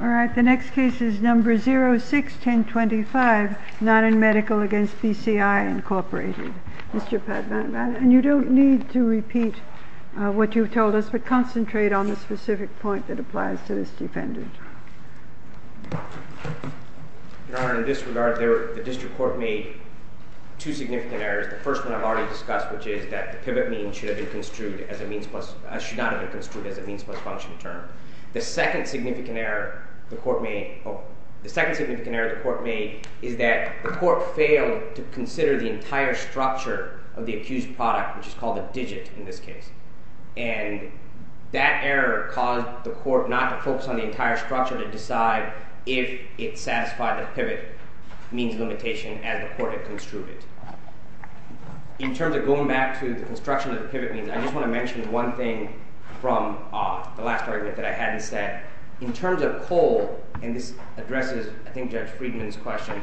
All right, the next case is number 06-1025 Nonin Medical v. BCI Incorporated. Mr. Padmanabhan, and you don't need to repeat what you've told us, but concentrate on the specific point that applies to this defendant. Your Honor, in this regard, the district court made two significant errors. The first one I've already discussed, which is that the pivot means should have been construed as a means plus function term. The second significant error the court made is that the court failed to consider the entire structure of the accused product, which is called a digit in this case, and that error caused the court not to focus on the entire structure to decide if it satisfied the pivot means limitation as the court had construed it. In terms of going back to the construction of the pivot means, I just want to mention one thing from the last argument that I had instead. In terms of coal, and this addresses, I think, Judge Friedman's question,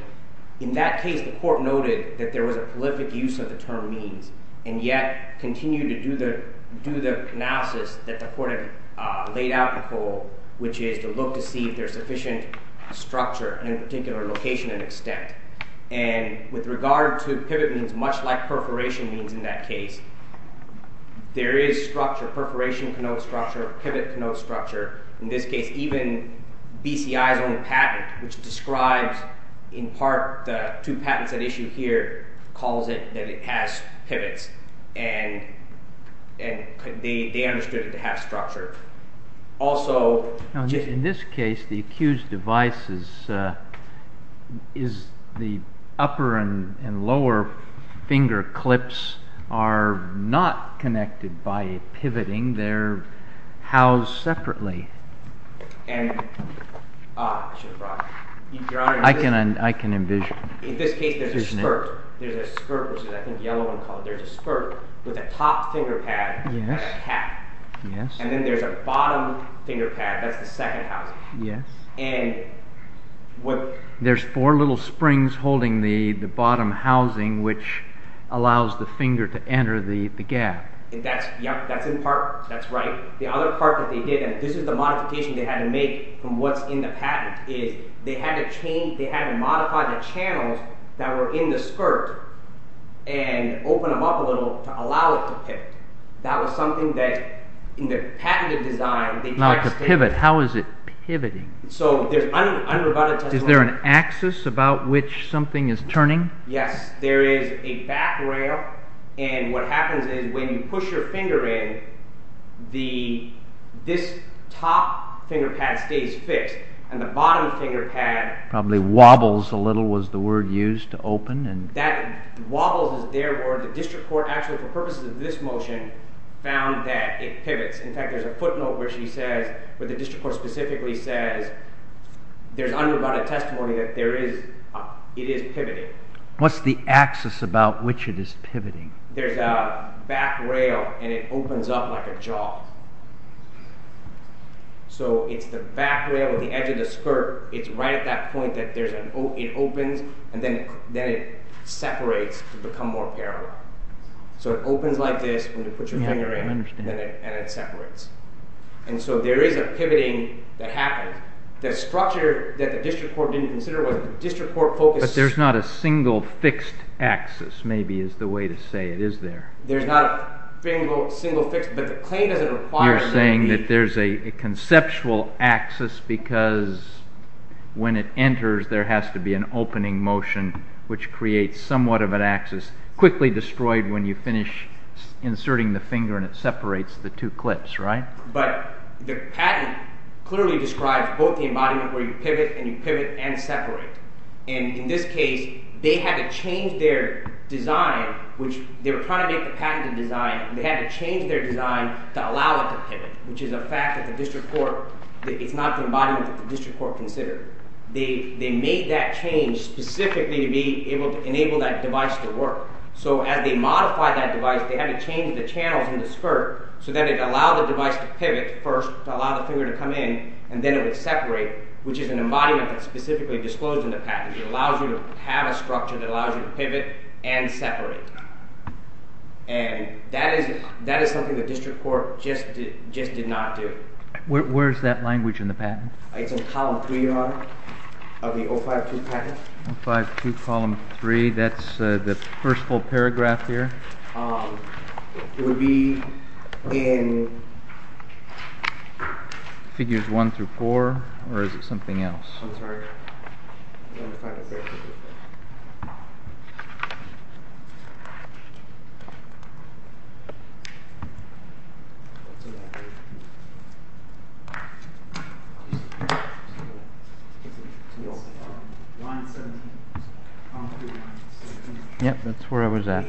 in that case the court noted that there was a prolific use of the term means, and yet continued to do the analysis that the court had laid out in coal, which is to look to see if there's sufficient structure, and in particular location and extent. And with regard to pivot means, much like perforation means in that case, there is structure, perforation can note structure, pivot can note structure, in this case even BCI's own patent, which describes in part the two patents at issue here, calls it that it has pivots, and they understood it to have structure. Also, in this case the accused device is the upper and lower finger clips are not connected by pivoting, they're housed separately. I can envision. In this case there's a spurt, which is I think yellow in color, there's a spurt with a top finger pad and a cap, and then there's a bottom finger pad, that's the second housing, and there's four little springs holding the bottom housing, which allows the finger to enter the gap. That's in part, that's right, the other part that they did, and this is the modification they had to make from what's in the patent, is they had to change, they had to modify the channels that were in the skirt and open them up a little to allow it to pivot. That was something that in the patented design... Now to pivot, how is it pivoting? So there's... Is there an axis about which something is turning? Yes, there is a back rail, and what happens is when you push your finger in, this top finger pad stays fixed, and the bottom finger pad... Probably wobbles a little, was the word used to open? That wobbles is there, or the district court actually, for purposes of this motion, found that it pivots. In fact, there's a footnote where she says, where the district court specifically says, there's undivided testimony that there is, it is pivoting. What's the axis about which it is pivoting? There's a back rail, and it opens up like a jaw. So it's the back rail, the edge of the skirt, it's right at that point that there's an, it opens, and then it separates to become more parallel. So it opens like this when you put your finger in, and it separates. And so there is a pivoting that happens. The structure that the district court didn't consider was, the district court focused... But there's not a single fixed axis, maybe, is the way to say it, is there? There's not a single fixed, but the claim doesn't require... You're saying that there's a conceptual axis because when it enters, there has to be an opening motion, which creates somewhat of an axis, quickly destroyed when you finish inserting the finger, and it separates the two clips, right? But the patent clearly describes both the embodiment, where you pivot, and you pivot, and separate. And in this case, they had to change their design, which they were trying to make a patented design, they had to change their design to allow it to pivot, which is a fact that the district court, it's not the embodiment that the district court considered. They made that change specifically to be able to enable that device to work. So as they modify that device, they had to change the channels in the skirt so that it allowed the device to pivot first, to allow the finger to come in, and then it separate, which is an embodiment that's specifically disclosed in the patent. It allows you to have a structure that allows you to pivot and separate. And that is that is something the district court just did not do. Where's that language in the patent? It's in column 3, Your Honor, of the 052 patent. 052, column 3, that's the first full paragraph here. It would be in Figures 1 through 4, or is it something else? I'm sorry. Yep, that's where I was at.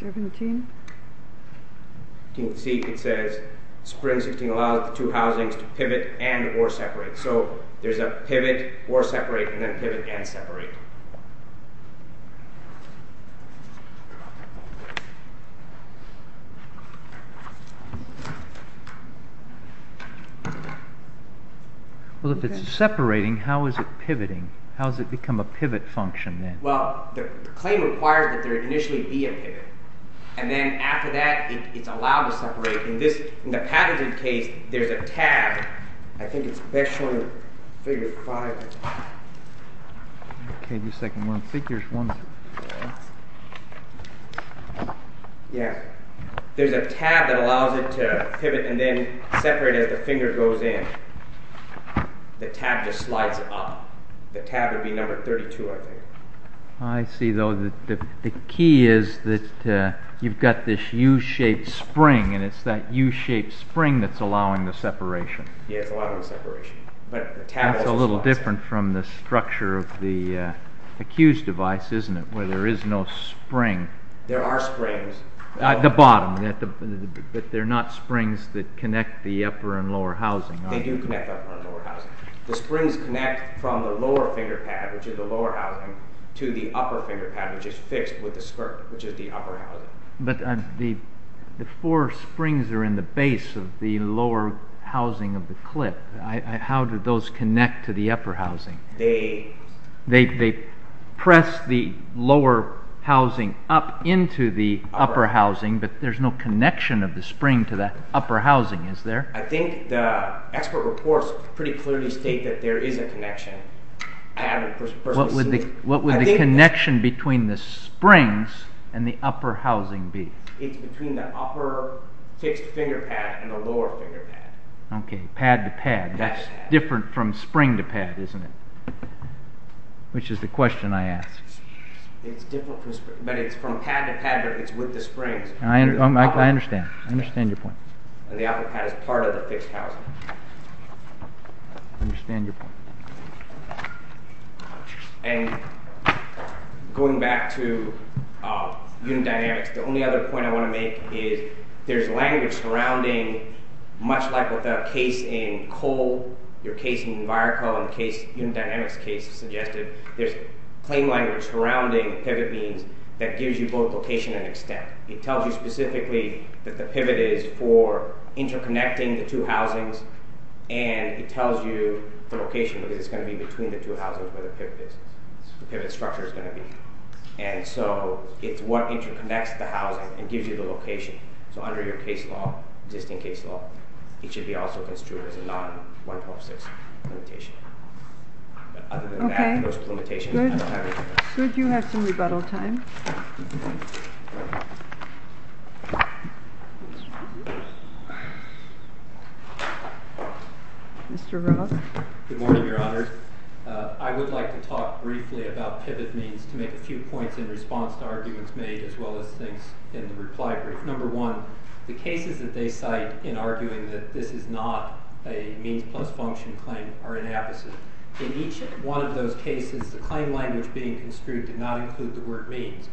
17? You can see it says, spring 16 allows the two separate. So there's a pivot or separate, and then pivot and separate. Well, if it's separating, how is it pivoting? How does it become a pivot function then? Well, the claim requires that there initially be a pivot, and then after that, it's allowed to separate. In this, in the patented case, there's a tab. I think it's best shown in Figure 5. Okay, just a second. There's a tab that allows it to pivot and then separate as the finger goes in. The tab just slides up. The tab would be number 32, I think. I see, though, that the key is that you've got this U-shaped spring, and it's that U-shaped spring that's allowing the separation. Yeah, it's allowing the separation. That's a little different from the structure of the Accused device, isn't it? Where there is no spring. There are springs. At the bottom, but they're not springs that connect the upper and lower housing. They do connect the upper and lower housing. The springs connect from the lower finger pad, which is the lower housing, to the upper finger pad, which is fixed with the skirt, which is the upper housing. But the four springs are in the base of the lower housing of the clip. How do those connect to the upper housing? They press the lower housing up into the upper housing, but there's no connection of the spring to the upper housing, is there? I think the expert reports pretty clearly state that there is a connection. What would the connection between the springs and the upper housing be? It's between the upper fixed finger pad and the lower finger pad. Okay, pad to pad. That's different from spring to pad, isn't it? Which is the question I ask. It's different from pad to pad, but it's with the springs. I understand. I understand your point. And the upper pad is part of the fixed housing. I understand your point. And going back to unit dynamics, the only other point I want to make is there's language surrounding, much like with the case in coal, your case in environmental and unit dynamics case suggested, there's plain language surrounding pivot beams that gives you both location and extent. It tells you specifically that the pivot is for interconnecting the two housings, and it tells you the location because it's going to be between the two housings where the pivot structure is going to be. And so it's what interconnects the housing and gives you the location. So under your existing case law, it should be also construed as a non-1126 limitation. Okay, good. You have some rebuttal time. Mr. Roth? Good morning, Your Honors. I would like to talk briefly about pivot beams to make a few points in response to arguments made as well as things in the reply brief. Number one, the cases that they cite in arguing that this is not a means plus function claim are inapposite. In each one of those cases, the claim language being construed did not include the word means.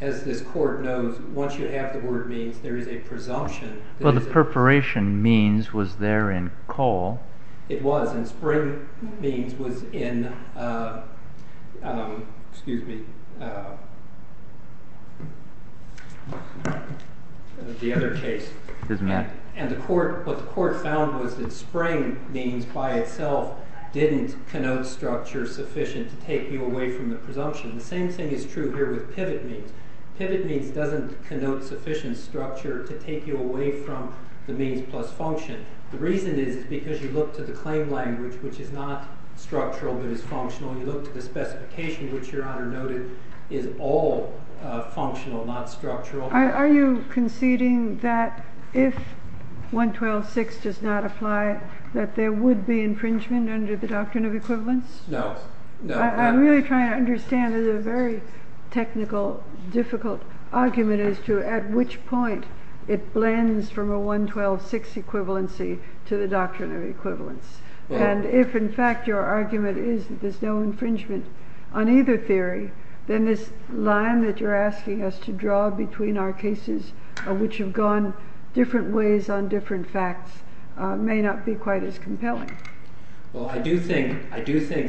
As this court knows, once you have the word means, there is a presumption. Well, the preparation means was there in coal. It was, and spring means was in the other case. And what the court found was that spring means by itself didn't connote structure sufficient to take you away from the presumption. The same thing is true here with pivot means. Pivot means doesn't connote sufficient structure to take you away from the means plus function. The reason is because you look to the claim language, which is not structural, but is functional. You look to the specification, which Your Honor noted is all functional, not structural. Are you conceding that if 1126 does not apply, that there would be infringement under the doctrine of equivalence? No. I'm really trying to understand that a very technical, difficult argument as to at which point it blends from a 1126 equivalency to the doctrine of equivalence. And if, in fact, your argument is that there's no infringement on either theory, then this line that you're asking us to draw between our cases, which have gone different ways on different facts, may not be quite as compelling. Well, I do think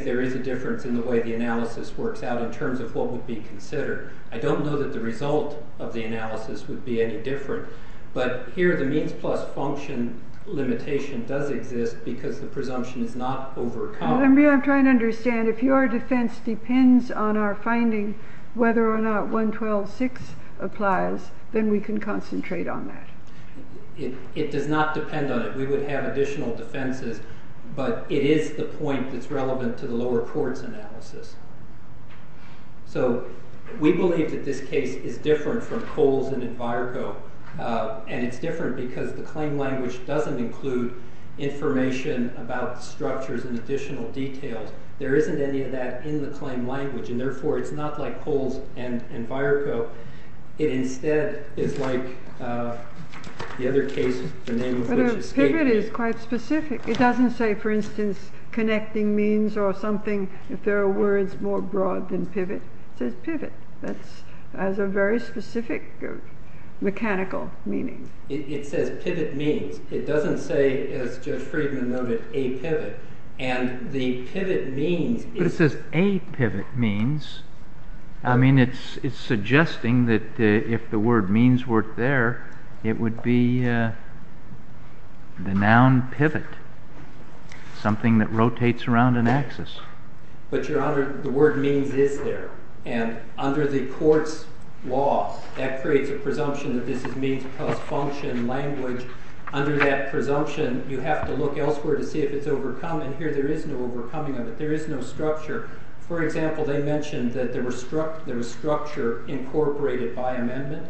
there is a difference in the way the analysis works out in terms of what would be considered. I don't know that the result of the analysis would be any different. But here the means plus function limitation does exist because the presumption is not overcome. I'm trying to understand if your defense depends on our finding whether or not 1126 applies, then we can concentrate on that. It does not depend on it. We would have additional defenses. But it is the point that's relevant to the lower court's analysis. So we believe that this case is different from Coles and Enviroco. And it's different because the claim language doesn't include information about structures and additional details. There isn't any of that in the claim language. And therefore, it's not like Coles and Enviroco. It instead is like the other case, the name of which escaped me. Pivot is quite specific. It doesn't say, for instance, connecting means or something. If there are words more broad than pivot, it says pivot. That has a very specific mechanical meaning. It says pivot means. It doesn't say, as Judge Friedman noted, a pivot. And the pivot means... But it says a pivot means. I mean, it's suggesting that if the word means were there, it would be the noun pivot, something that rotates around an axis. But, Your Honor, the word means is there. And under the court's law, that creates a presumption that this is means plus function language. Under that presumption, you have to look elsewhere to see if it's overcome. And here there is no overcoming of it. There is no structure. For example, they mentioned that there was structure incorporated by amendment.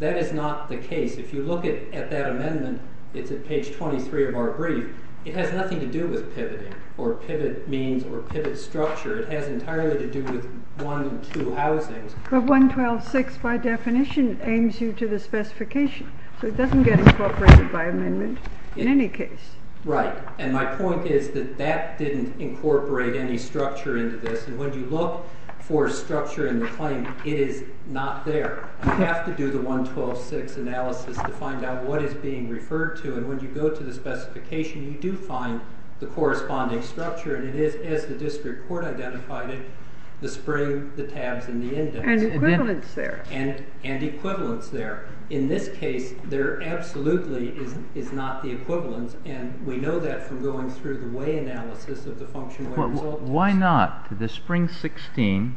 That is not the case. If you look at that amendment, it's at page 23 of our brief. It has nothing to do with pivoting or pivot means or pivot structure. It has entirely to do with one and two housings. But 112.6 by definition aims you to the specification. So it doesn't get incorporated by amendment in any case. Right. And my point is that that didn't incorporate any structure into this. And when you look for structure in the claim, it is not there. You have to do the 112.6 analysis to find out what is being referred to. And when you go to the specification, you do find the corresponding structure. And it is, as the district court identified it, the spring, the tabs, and the index. And equivalence there. And equivalence there. In this case, there absolutely is not the equivalence. And we know that from going through the way analysis of the function way result. Why not? The spring 16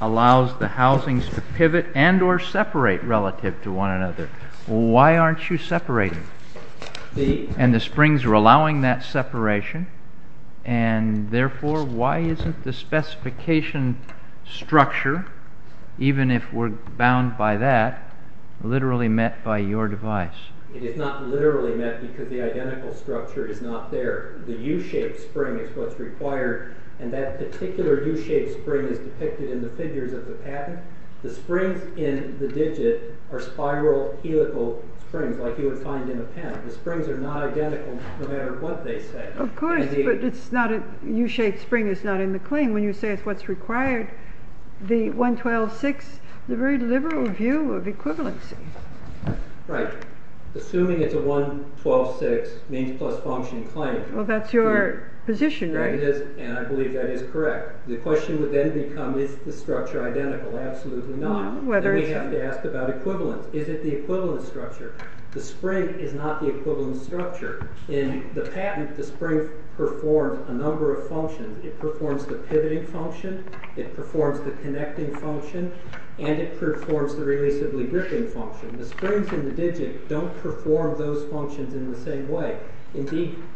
allows the housings to pivot and or separate relative to one another. Why aren't you separating? And the springs are allowing that separation. And therefore, why isn't the specification structure, even if we're bound by that, literally met by your device? It is not literally met because the identical structure is not there. The U-shaped spring is what's required. And that particular U-shaped spring is depicted in the figures of the patent. The springs in the digit are spiral helical springs like you would find in a pen. The springs are not identical no matter what they say. Of course, but it's not a U-shaped spring is not in the claim. When you say it's what's required, the 112.6, the very liberal view of equivalency. Right. Assuming it's a 112.6 means plus function claim. Well, that's your position, right? It is, and I believe that is correct. The question would then become, is the structure identical? Absolutely not. Then we have to ask about equivalence. Is it the equivalent structure? The spring is not the equivalent structure. In the patent, the spring performs a number of functions. It performs the pivoting function. It performs the connecting function. And it performs the relatively gripping function. The springs in the digit don't perform those functions in the same way.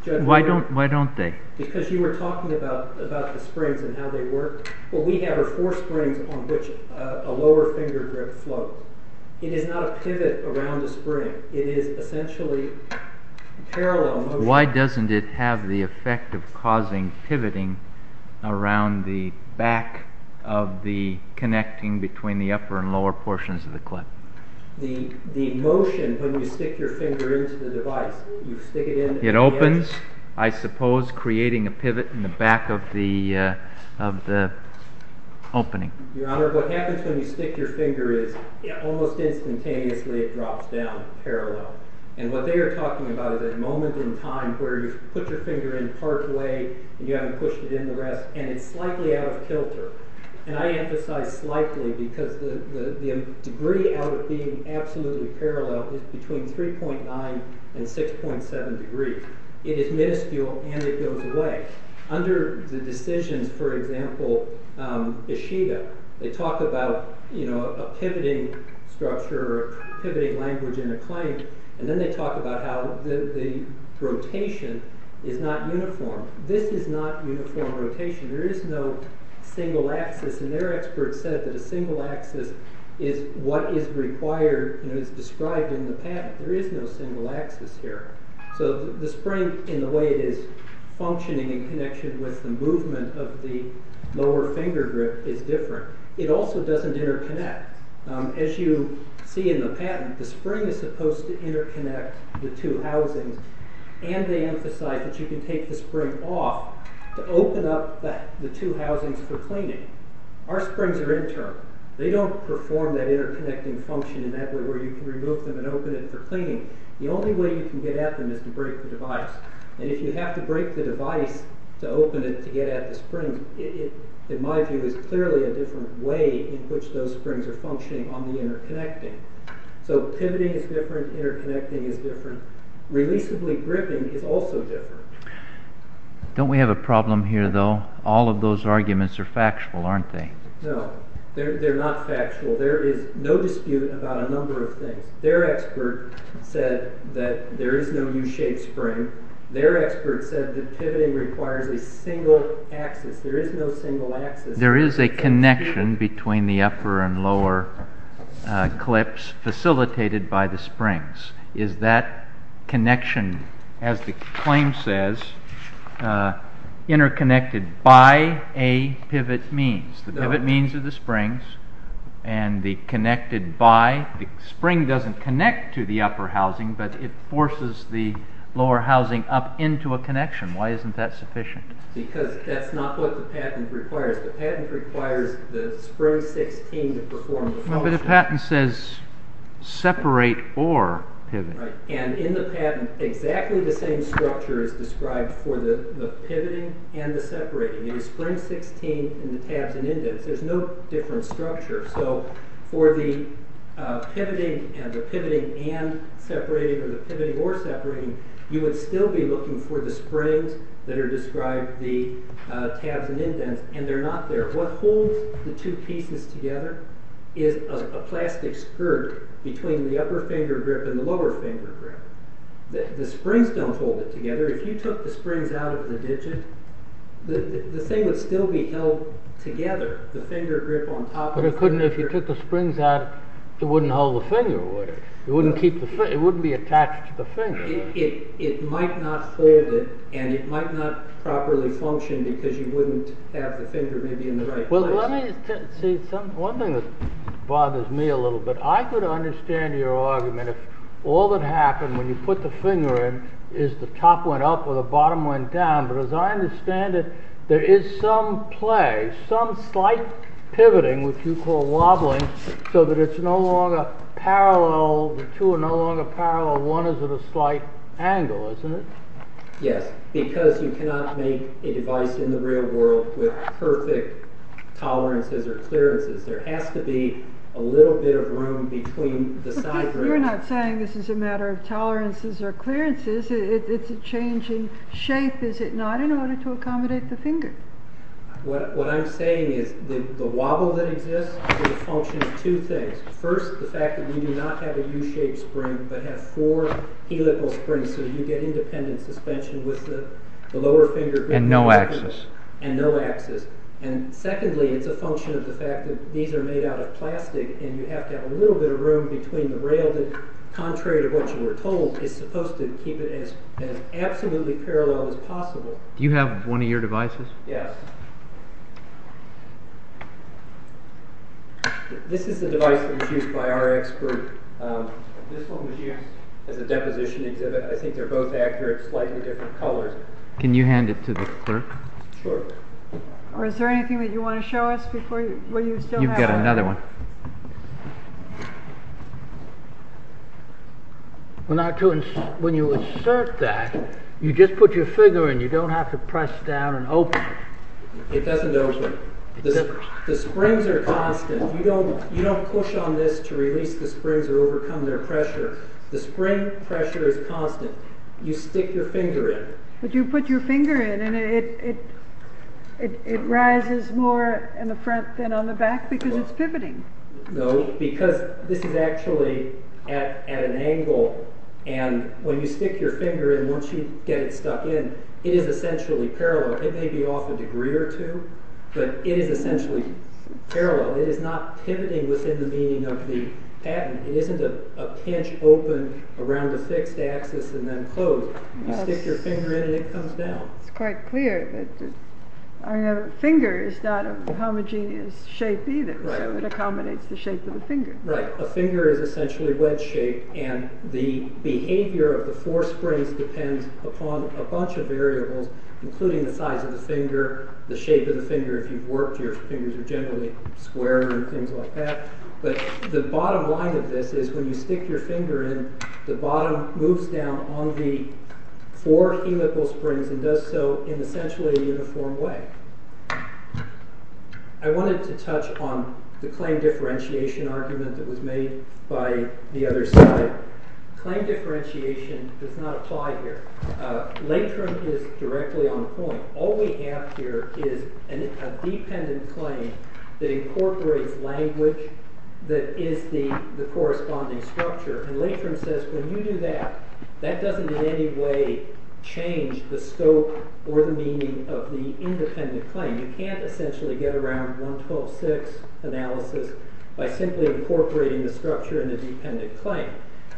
Why don't they? Because you were talking about the springs and how they work. What we have are four springs on which a lower finger grip float. It is not a pivot around the spring. It is essentially parallel motion. Why doesn't it have the effect of causing pivoting around the back of the connecting between the upper and lower portions of the clip? The motion when you stick your finger into the device, you stick it into the area. It opens, I suppose, creating a pivot in the back of the opening. Your Honor, what happens when you stick your finger is, almost instantaneously it drops down parallel. And what they are talking about is that moment in time where you put your finger in part way and you haven't pushed it in the rest and it's slightly out of kilter. And I emphasize slightly because the degree out of being absolutely parallel is between 3.9 and 6.7 degrees. It is minuscule and it goes away. Under the decisions, for example, Ishida, they talk about a pivoting structure or pivoting language in a clamp. And then they talk about how the rotation is not uniform. This is not uniform rotation. There is no single axis. And their experts said that a single axis is what is required and is described in the patent. There is no single axis here. So the spring in the way it is functioning in connection with the movement of the lower finger grip is different. It also doesn't interconnect. As you see in the patent, the spring is supposed to interconnect the two housings and they emphasize that you can take the spring off to open up the two housings for cleaning. Our springs are in turn. They don't perform that interconnecting function in that way where you can remove them and open it for cleaning. The only way you can get at them is to break the device. And if you have to break the device to open it to get at the spring, it, in my view, is clearly a different way in which those springs are functioning on the interconnecting. So pivoting is different. Interconnecting is different. Releaseably gripping is also different. Don't we have a problem here, though? All of those arguments are factual, aren't they? No, they're not factual. There is no dispute about a number of things. Their expert said that there is no U-shaped spring. Their expert said that pivoting requires a single axis. There is no single axis. There is a connection between the upper and lower clips facilitated by the springs. Is that connection, as the claim says, interconnected by a pivot means? The pivot means are the springs and the connected by. The spring doesn't connect to the upper housing, but it forces the lower housing up into a connection. Why isn't that sufficient? Because that's not what the patent requires. The patent requires the spring 16 to perform the function. But the patent says separate or pivot. And in the patent, exactly the same structure is described for the pivoting and the separating. There's spring 16 in the tabs and indents. There's no different structure. So for the pivoting and separating or the pivoting or separating, you would still be looking for the springs that are described in the tabs and indents, and they're not there. What holds the two pieces together is a plastic skirt between the upper finger grip and the lower finger grip. The springs don't hold it together. If you took the springs out of the digit, the thing would still be held together. The finger grip on top of the finger. But if you took the springs out, it wouldn't hold the finger, would it? It wouldn't be attached to the finger. It might not fold it, and it might not properly function because you wouldn't have the finger maybe in the right place. Well, let me, see, one thing that bothers me a little bit. I could understand your argument if all that happened when you put the finger in is the top went up or the bottom went down. But as I understand it, there is some play, some slight pivoting, which you call wobbling, so that it's no longer parallel, the two are no longer parallel. One is at a slight angle, isn't it? Yes, because you cannot make a device in the real world with perfect tolerances or clearances. There has to be a little bit of room between the side grips. You're not saying this is a matter of tolerances or clearances. It's a change in shape, is it not, in order to accommodate the finger? What I'm saying is the wobble that exists is a function of two things. First, the fact that you do not have a U-shaped spring, but have four helical springs, so you get independent suspension with the lower finger grip. And no axis. And secondly, it's a function of the fact that these are made out of plastic, and you have to have a little bit of room between the rail that, contrary to what you were told, is supposed to keep it as absolutely parallel as possible. Do you have one of your devices? Yes. This is the device that was used by our expert. This one was used as a deposition exhibit. I think they're both accurate, slightly different colors. Can you hand it to the clerk? Sure. Is there anything that you want to show us before you still have it? You've got another one. When you insert that, you just put your finger in. You don't have to press down and open it. It doesn't open. The springs are constant. You don't push on this to release the springs or overcome their pressure. The spring pressure is constant. You stick your finger in. But you put your finger in, and it rises more in the front than on the back because it's pivoting. No, because this is actually at an angle, and when you stick your finger in, once you get it stuck in, it is essentially parallel. It may be off a degree or two, but it is essentially parallel. It is not pivoting within the meaning of the patent. It isn't a pinch open around a fixed axis and then closed. You stick your finger in, and it comes down. It's quite clear. A finger is not a homogeneous shape either, so it accommodates the shape of the finger. Right. A finger is essentially a wedge shape, and the behavior of the four springs depends upon a bunch of variables, including the size of the finger, the shape of the finger. If you've worked, your fingers are generally square and things like that. But the bottom line of this is when you stick your finger in, the bottom moves down on the four helical springs and does so in essentially a uniform way. I wanted to touch on the claim differentiation argument that was made by the other side. Claim differentiation does not apply here. Latent is directly on point. All we have here is a dependent claim that incorporates language that is the corresponding structure. Latent says when you do that, that doesn't in any way change the scope or the meaning of the independent claim. You can't essentially get around 112.6 analysis by simply incorporating the structure in the dependent claim.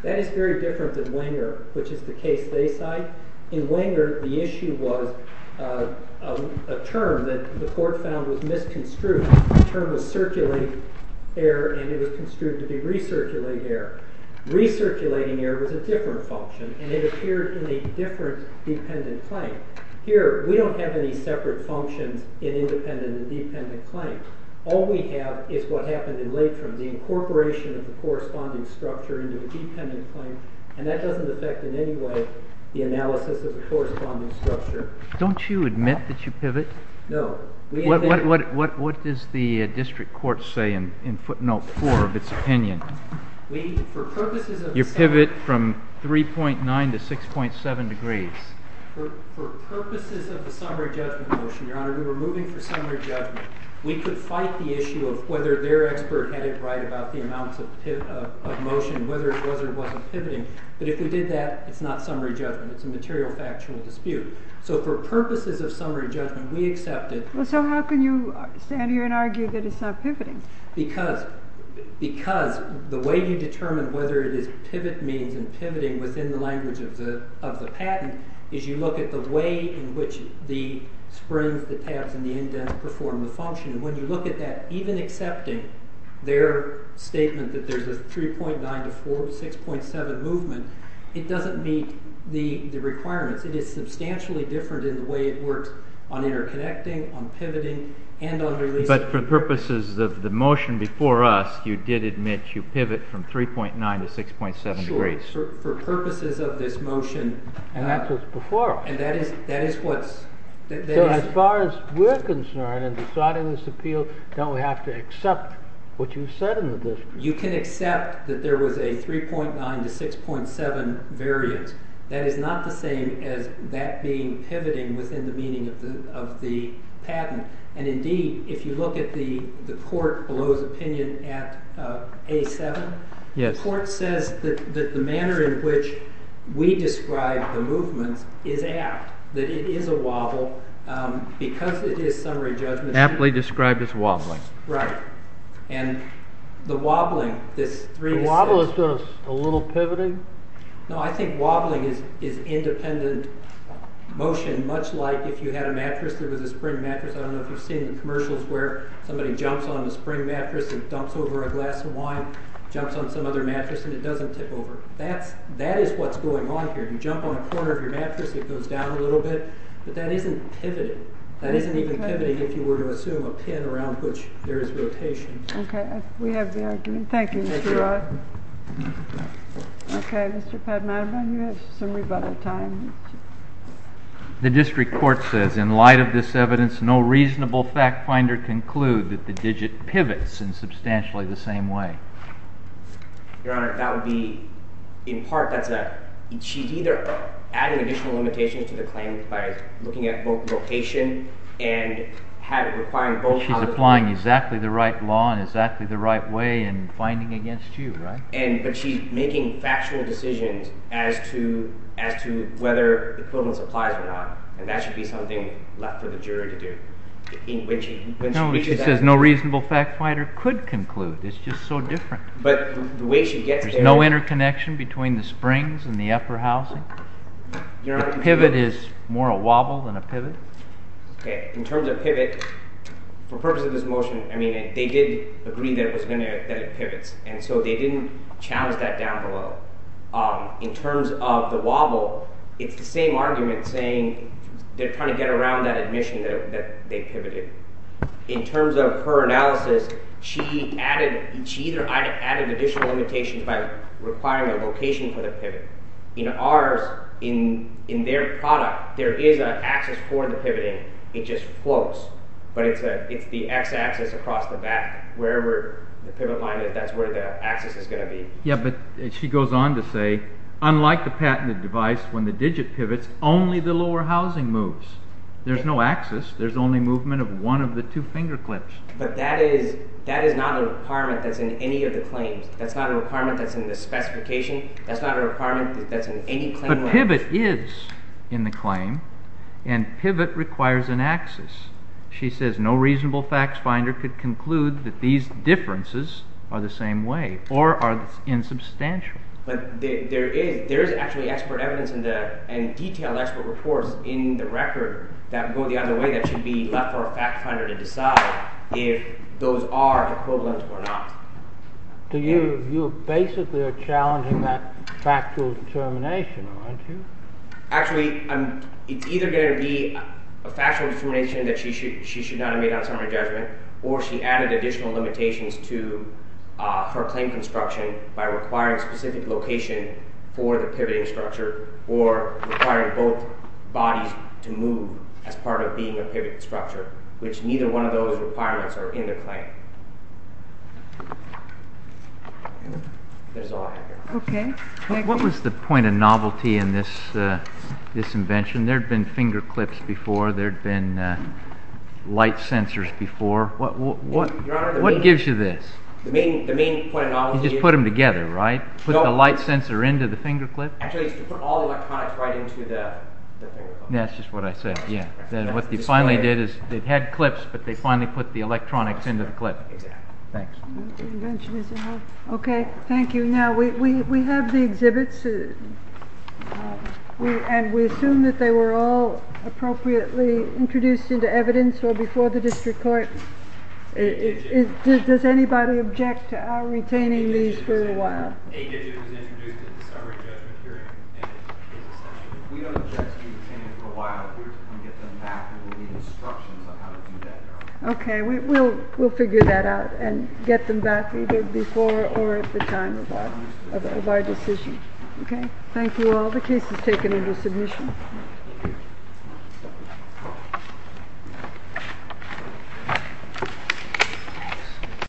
That is very different than Wenger, which is the case they cite. In Wenger, the issue was a term that the court found was misconstrued. The term was circulating error, and it was construed to be recirculating error. Recirculating error was a different function, and it appeared in a different dependent claim. Here, we don't have any separate functions in independent and dependent claims. All we have is what happened in Latent, the incorporation of the corresponding structure into a dependent claim, and that doesn't affect in any way the analysis of the corresponding structure. Don't you admit that you pivot? No. What does the district court say in footnote 4 of its opinion? We, for purposes of the summary judgment motion, Your Honor, we were moving for summary judgment. We could fight the issue of whether their expert had it right about the amounts of motion, whether it was or wasn't pivoting, but if we did that, it's not summary judgment. It's a material factual dispute. So for purposes of summary judgment, we accepted. So how can you stand here and argue that it's not pivoting? Because the way you determine whether it is pivot means and pivoting within the language of the patent is you look at the way in which the springs, the tabs, and the indents perform the function. When you look at that, even accepting their statement that there's a 3.9 to 6.7 movement, it doesn't meet the requirements. It is substantially different in the way it works on interconnecting, on pivoting, and on releasing. But for purposes of the motion before us, you did admit you pivot from 3.9 to 6.7 degrees. Sure. For purposes of this motion. And that's what's before us. And that is what's... So as far as we're concerned in deciding this appeal, don't we have to accept what you said in the dispute? You can accept that there was a 3.9 to 6.7 variance. That is not the same as that being pivoting within the meaning of the patent. And indeed, if you look at the court below's opinion at A7, the court says that the manner in which we describe the movements is apt, that it is a wobble, because it is summary judgment... Aptly described as wobbling. Right. And the wobbling, this 3.6... The wobble is just a little pivoting? No, I think wobbling is independent motion, much like if you had a mattress that was a spring mattress. I don't know if you've seen the commercials where somebody jumps on a spring mattress and dumps over a glass of wine, jumps on some other mattress, and it doesn't tip over. That is what's going on here. You jump on the corner of your mattress, it goes down a little bit, but that isn't pivoting. That isn't even pivoting if you were to assume a pin around which there is rotation. Okay, we have the argument. Thank you, Mr. Wright. Okay, Mr. Padmanabhan, you have some rebuttal time. The district court says, in light of this evidence, no reasonable fact finder conclude that the digit pivots in substantially the same way. Your Honor, that would be, in part, that's a... She's either adding additional limitations to the claim by looking at both rotation and requiring both... She's applying exactly the right law in exactly the right way and finding against you, right? But she's making factual decisions as to whether equivalence applies or not, and that should be something left for the jury to do. No, she says no reasonable fact finder could conclude. It's just so different. There's no interconnection between the springs and the upper housing. A pivot is more a wobble than a pivot. Okay, in terms of pivot, for purposes of this motion, I mean, they did agree that it pivots, and so they didn't challenge that down below. In terms of the wobble, it's the same argument saying they're trying to get around that admission that they pivoted. In terms of her analysis, she either added additional limitations by requiring a location for the pivot. In ours, in their product, there is an axis for the pivoting. It just floats, but it's the x-axis across the back, wherever the pivot line is, that's where the axis is going to be. Yeah, but she goes on to say, unlike the patented device, when the digit pivots, only the lower housing moves. There's no axis. There's only movement of one of the two finger clips. But that is not a requirement that's in any of the claims. That's not a requirement that's in the specification. That's not a requirement that's in any claim language. But pivot is in the claim, and pivot requires an axis. She says no reasonable facts finder could conclude that these differences are the same way or are insubstantial. But there is actually expert evidence and detailed expert reports in the record that go the other way that should be left for a fact finder to decide if those are equivalent or not. So you basically are challenging that factual determination, aren't you? Actually, it's either going to be a factual determination that she should not have made on summary judgment, or she added additional limitations to her claim construction by requiring specific location for the pivoting structure or requiring both bodies to move as part of being a pivoting structure, which neither one of those requirements are in the claim. What was the point of novelty in this invention? There had been finger clips before. There had been light sensors before. What gives you this? You just put them together, right? Put the light sensor into the finger clip? Actually, it's to put all the electronics right into the finger clip. That's just what I said, yeah. What they finally did is they had clips, but they finally put the electronics into the clip. Exactly. Thanks. Okay, thank you. Now, we have the exhibits, and we assume that they were all appropriately introduced into evidence or before the district court. Does anybody object to our retaining these for a while? We don't object to retaining them for a while. We're going to get them back, and we'll need instructions on how to do that. Okay, we'll figure that out and get them back either before or at the time of our decision. Okay, thank you all. The case is taken into submission.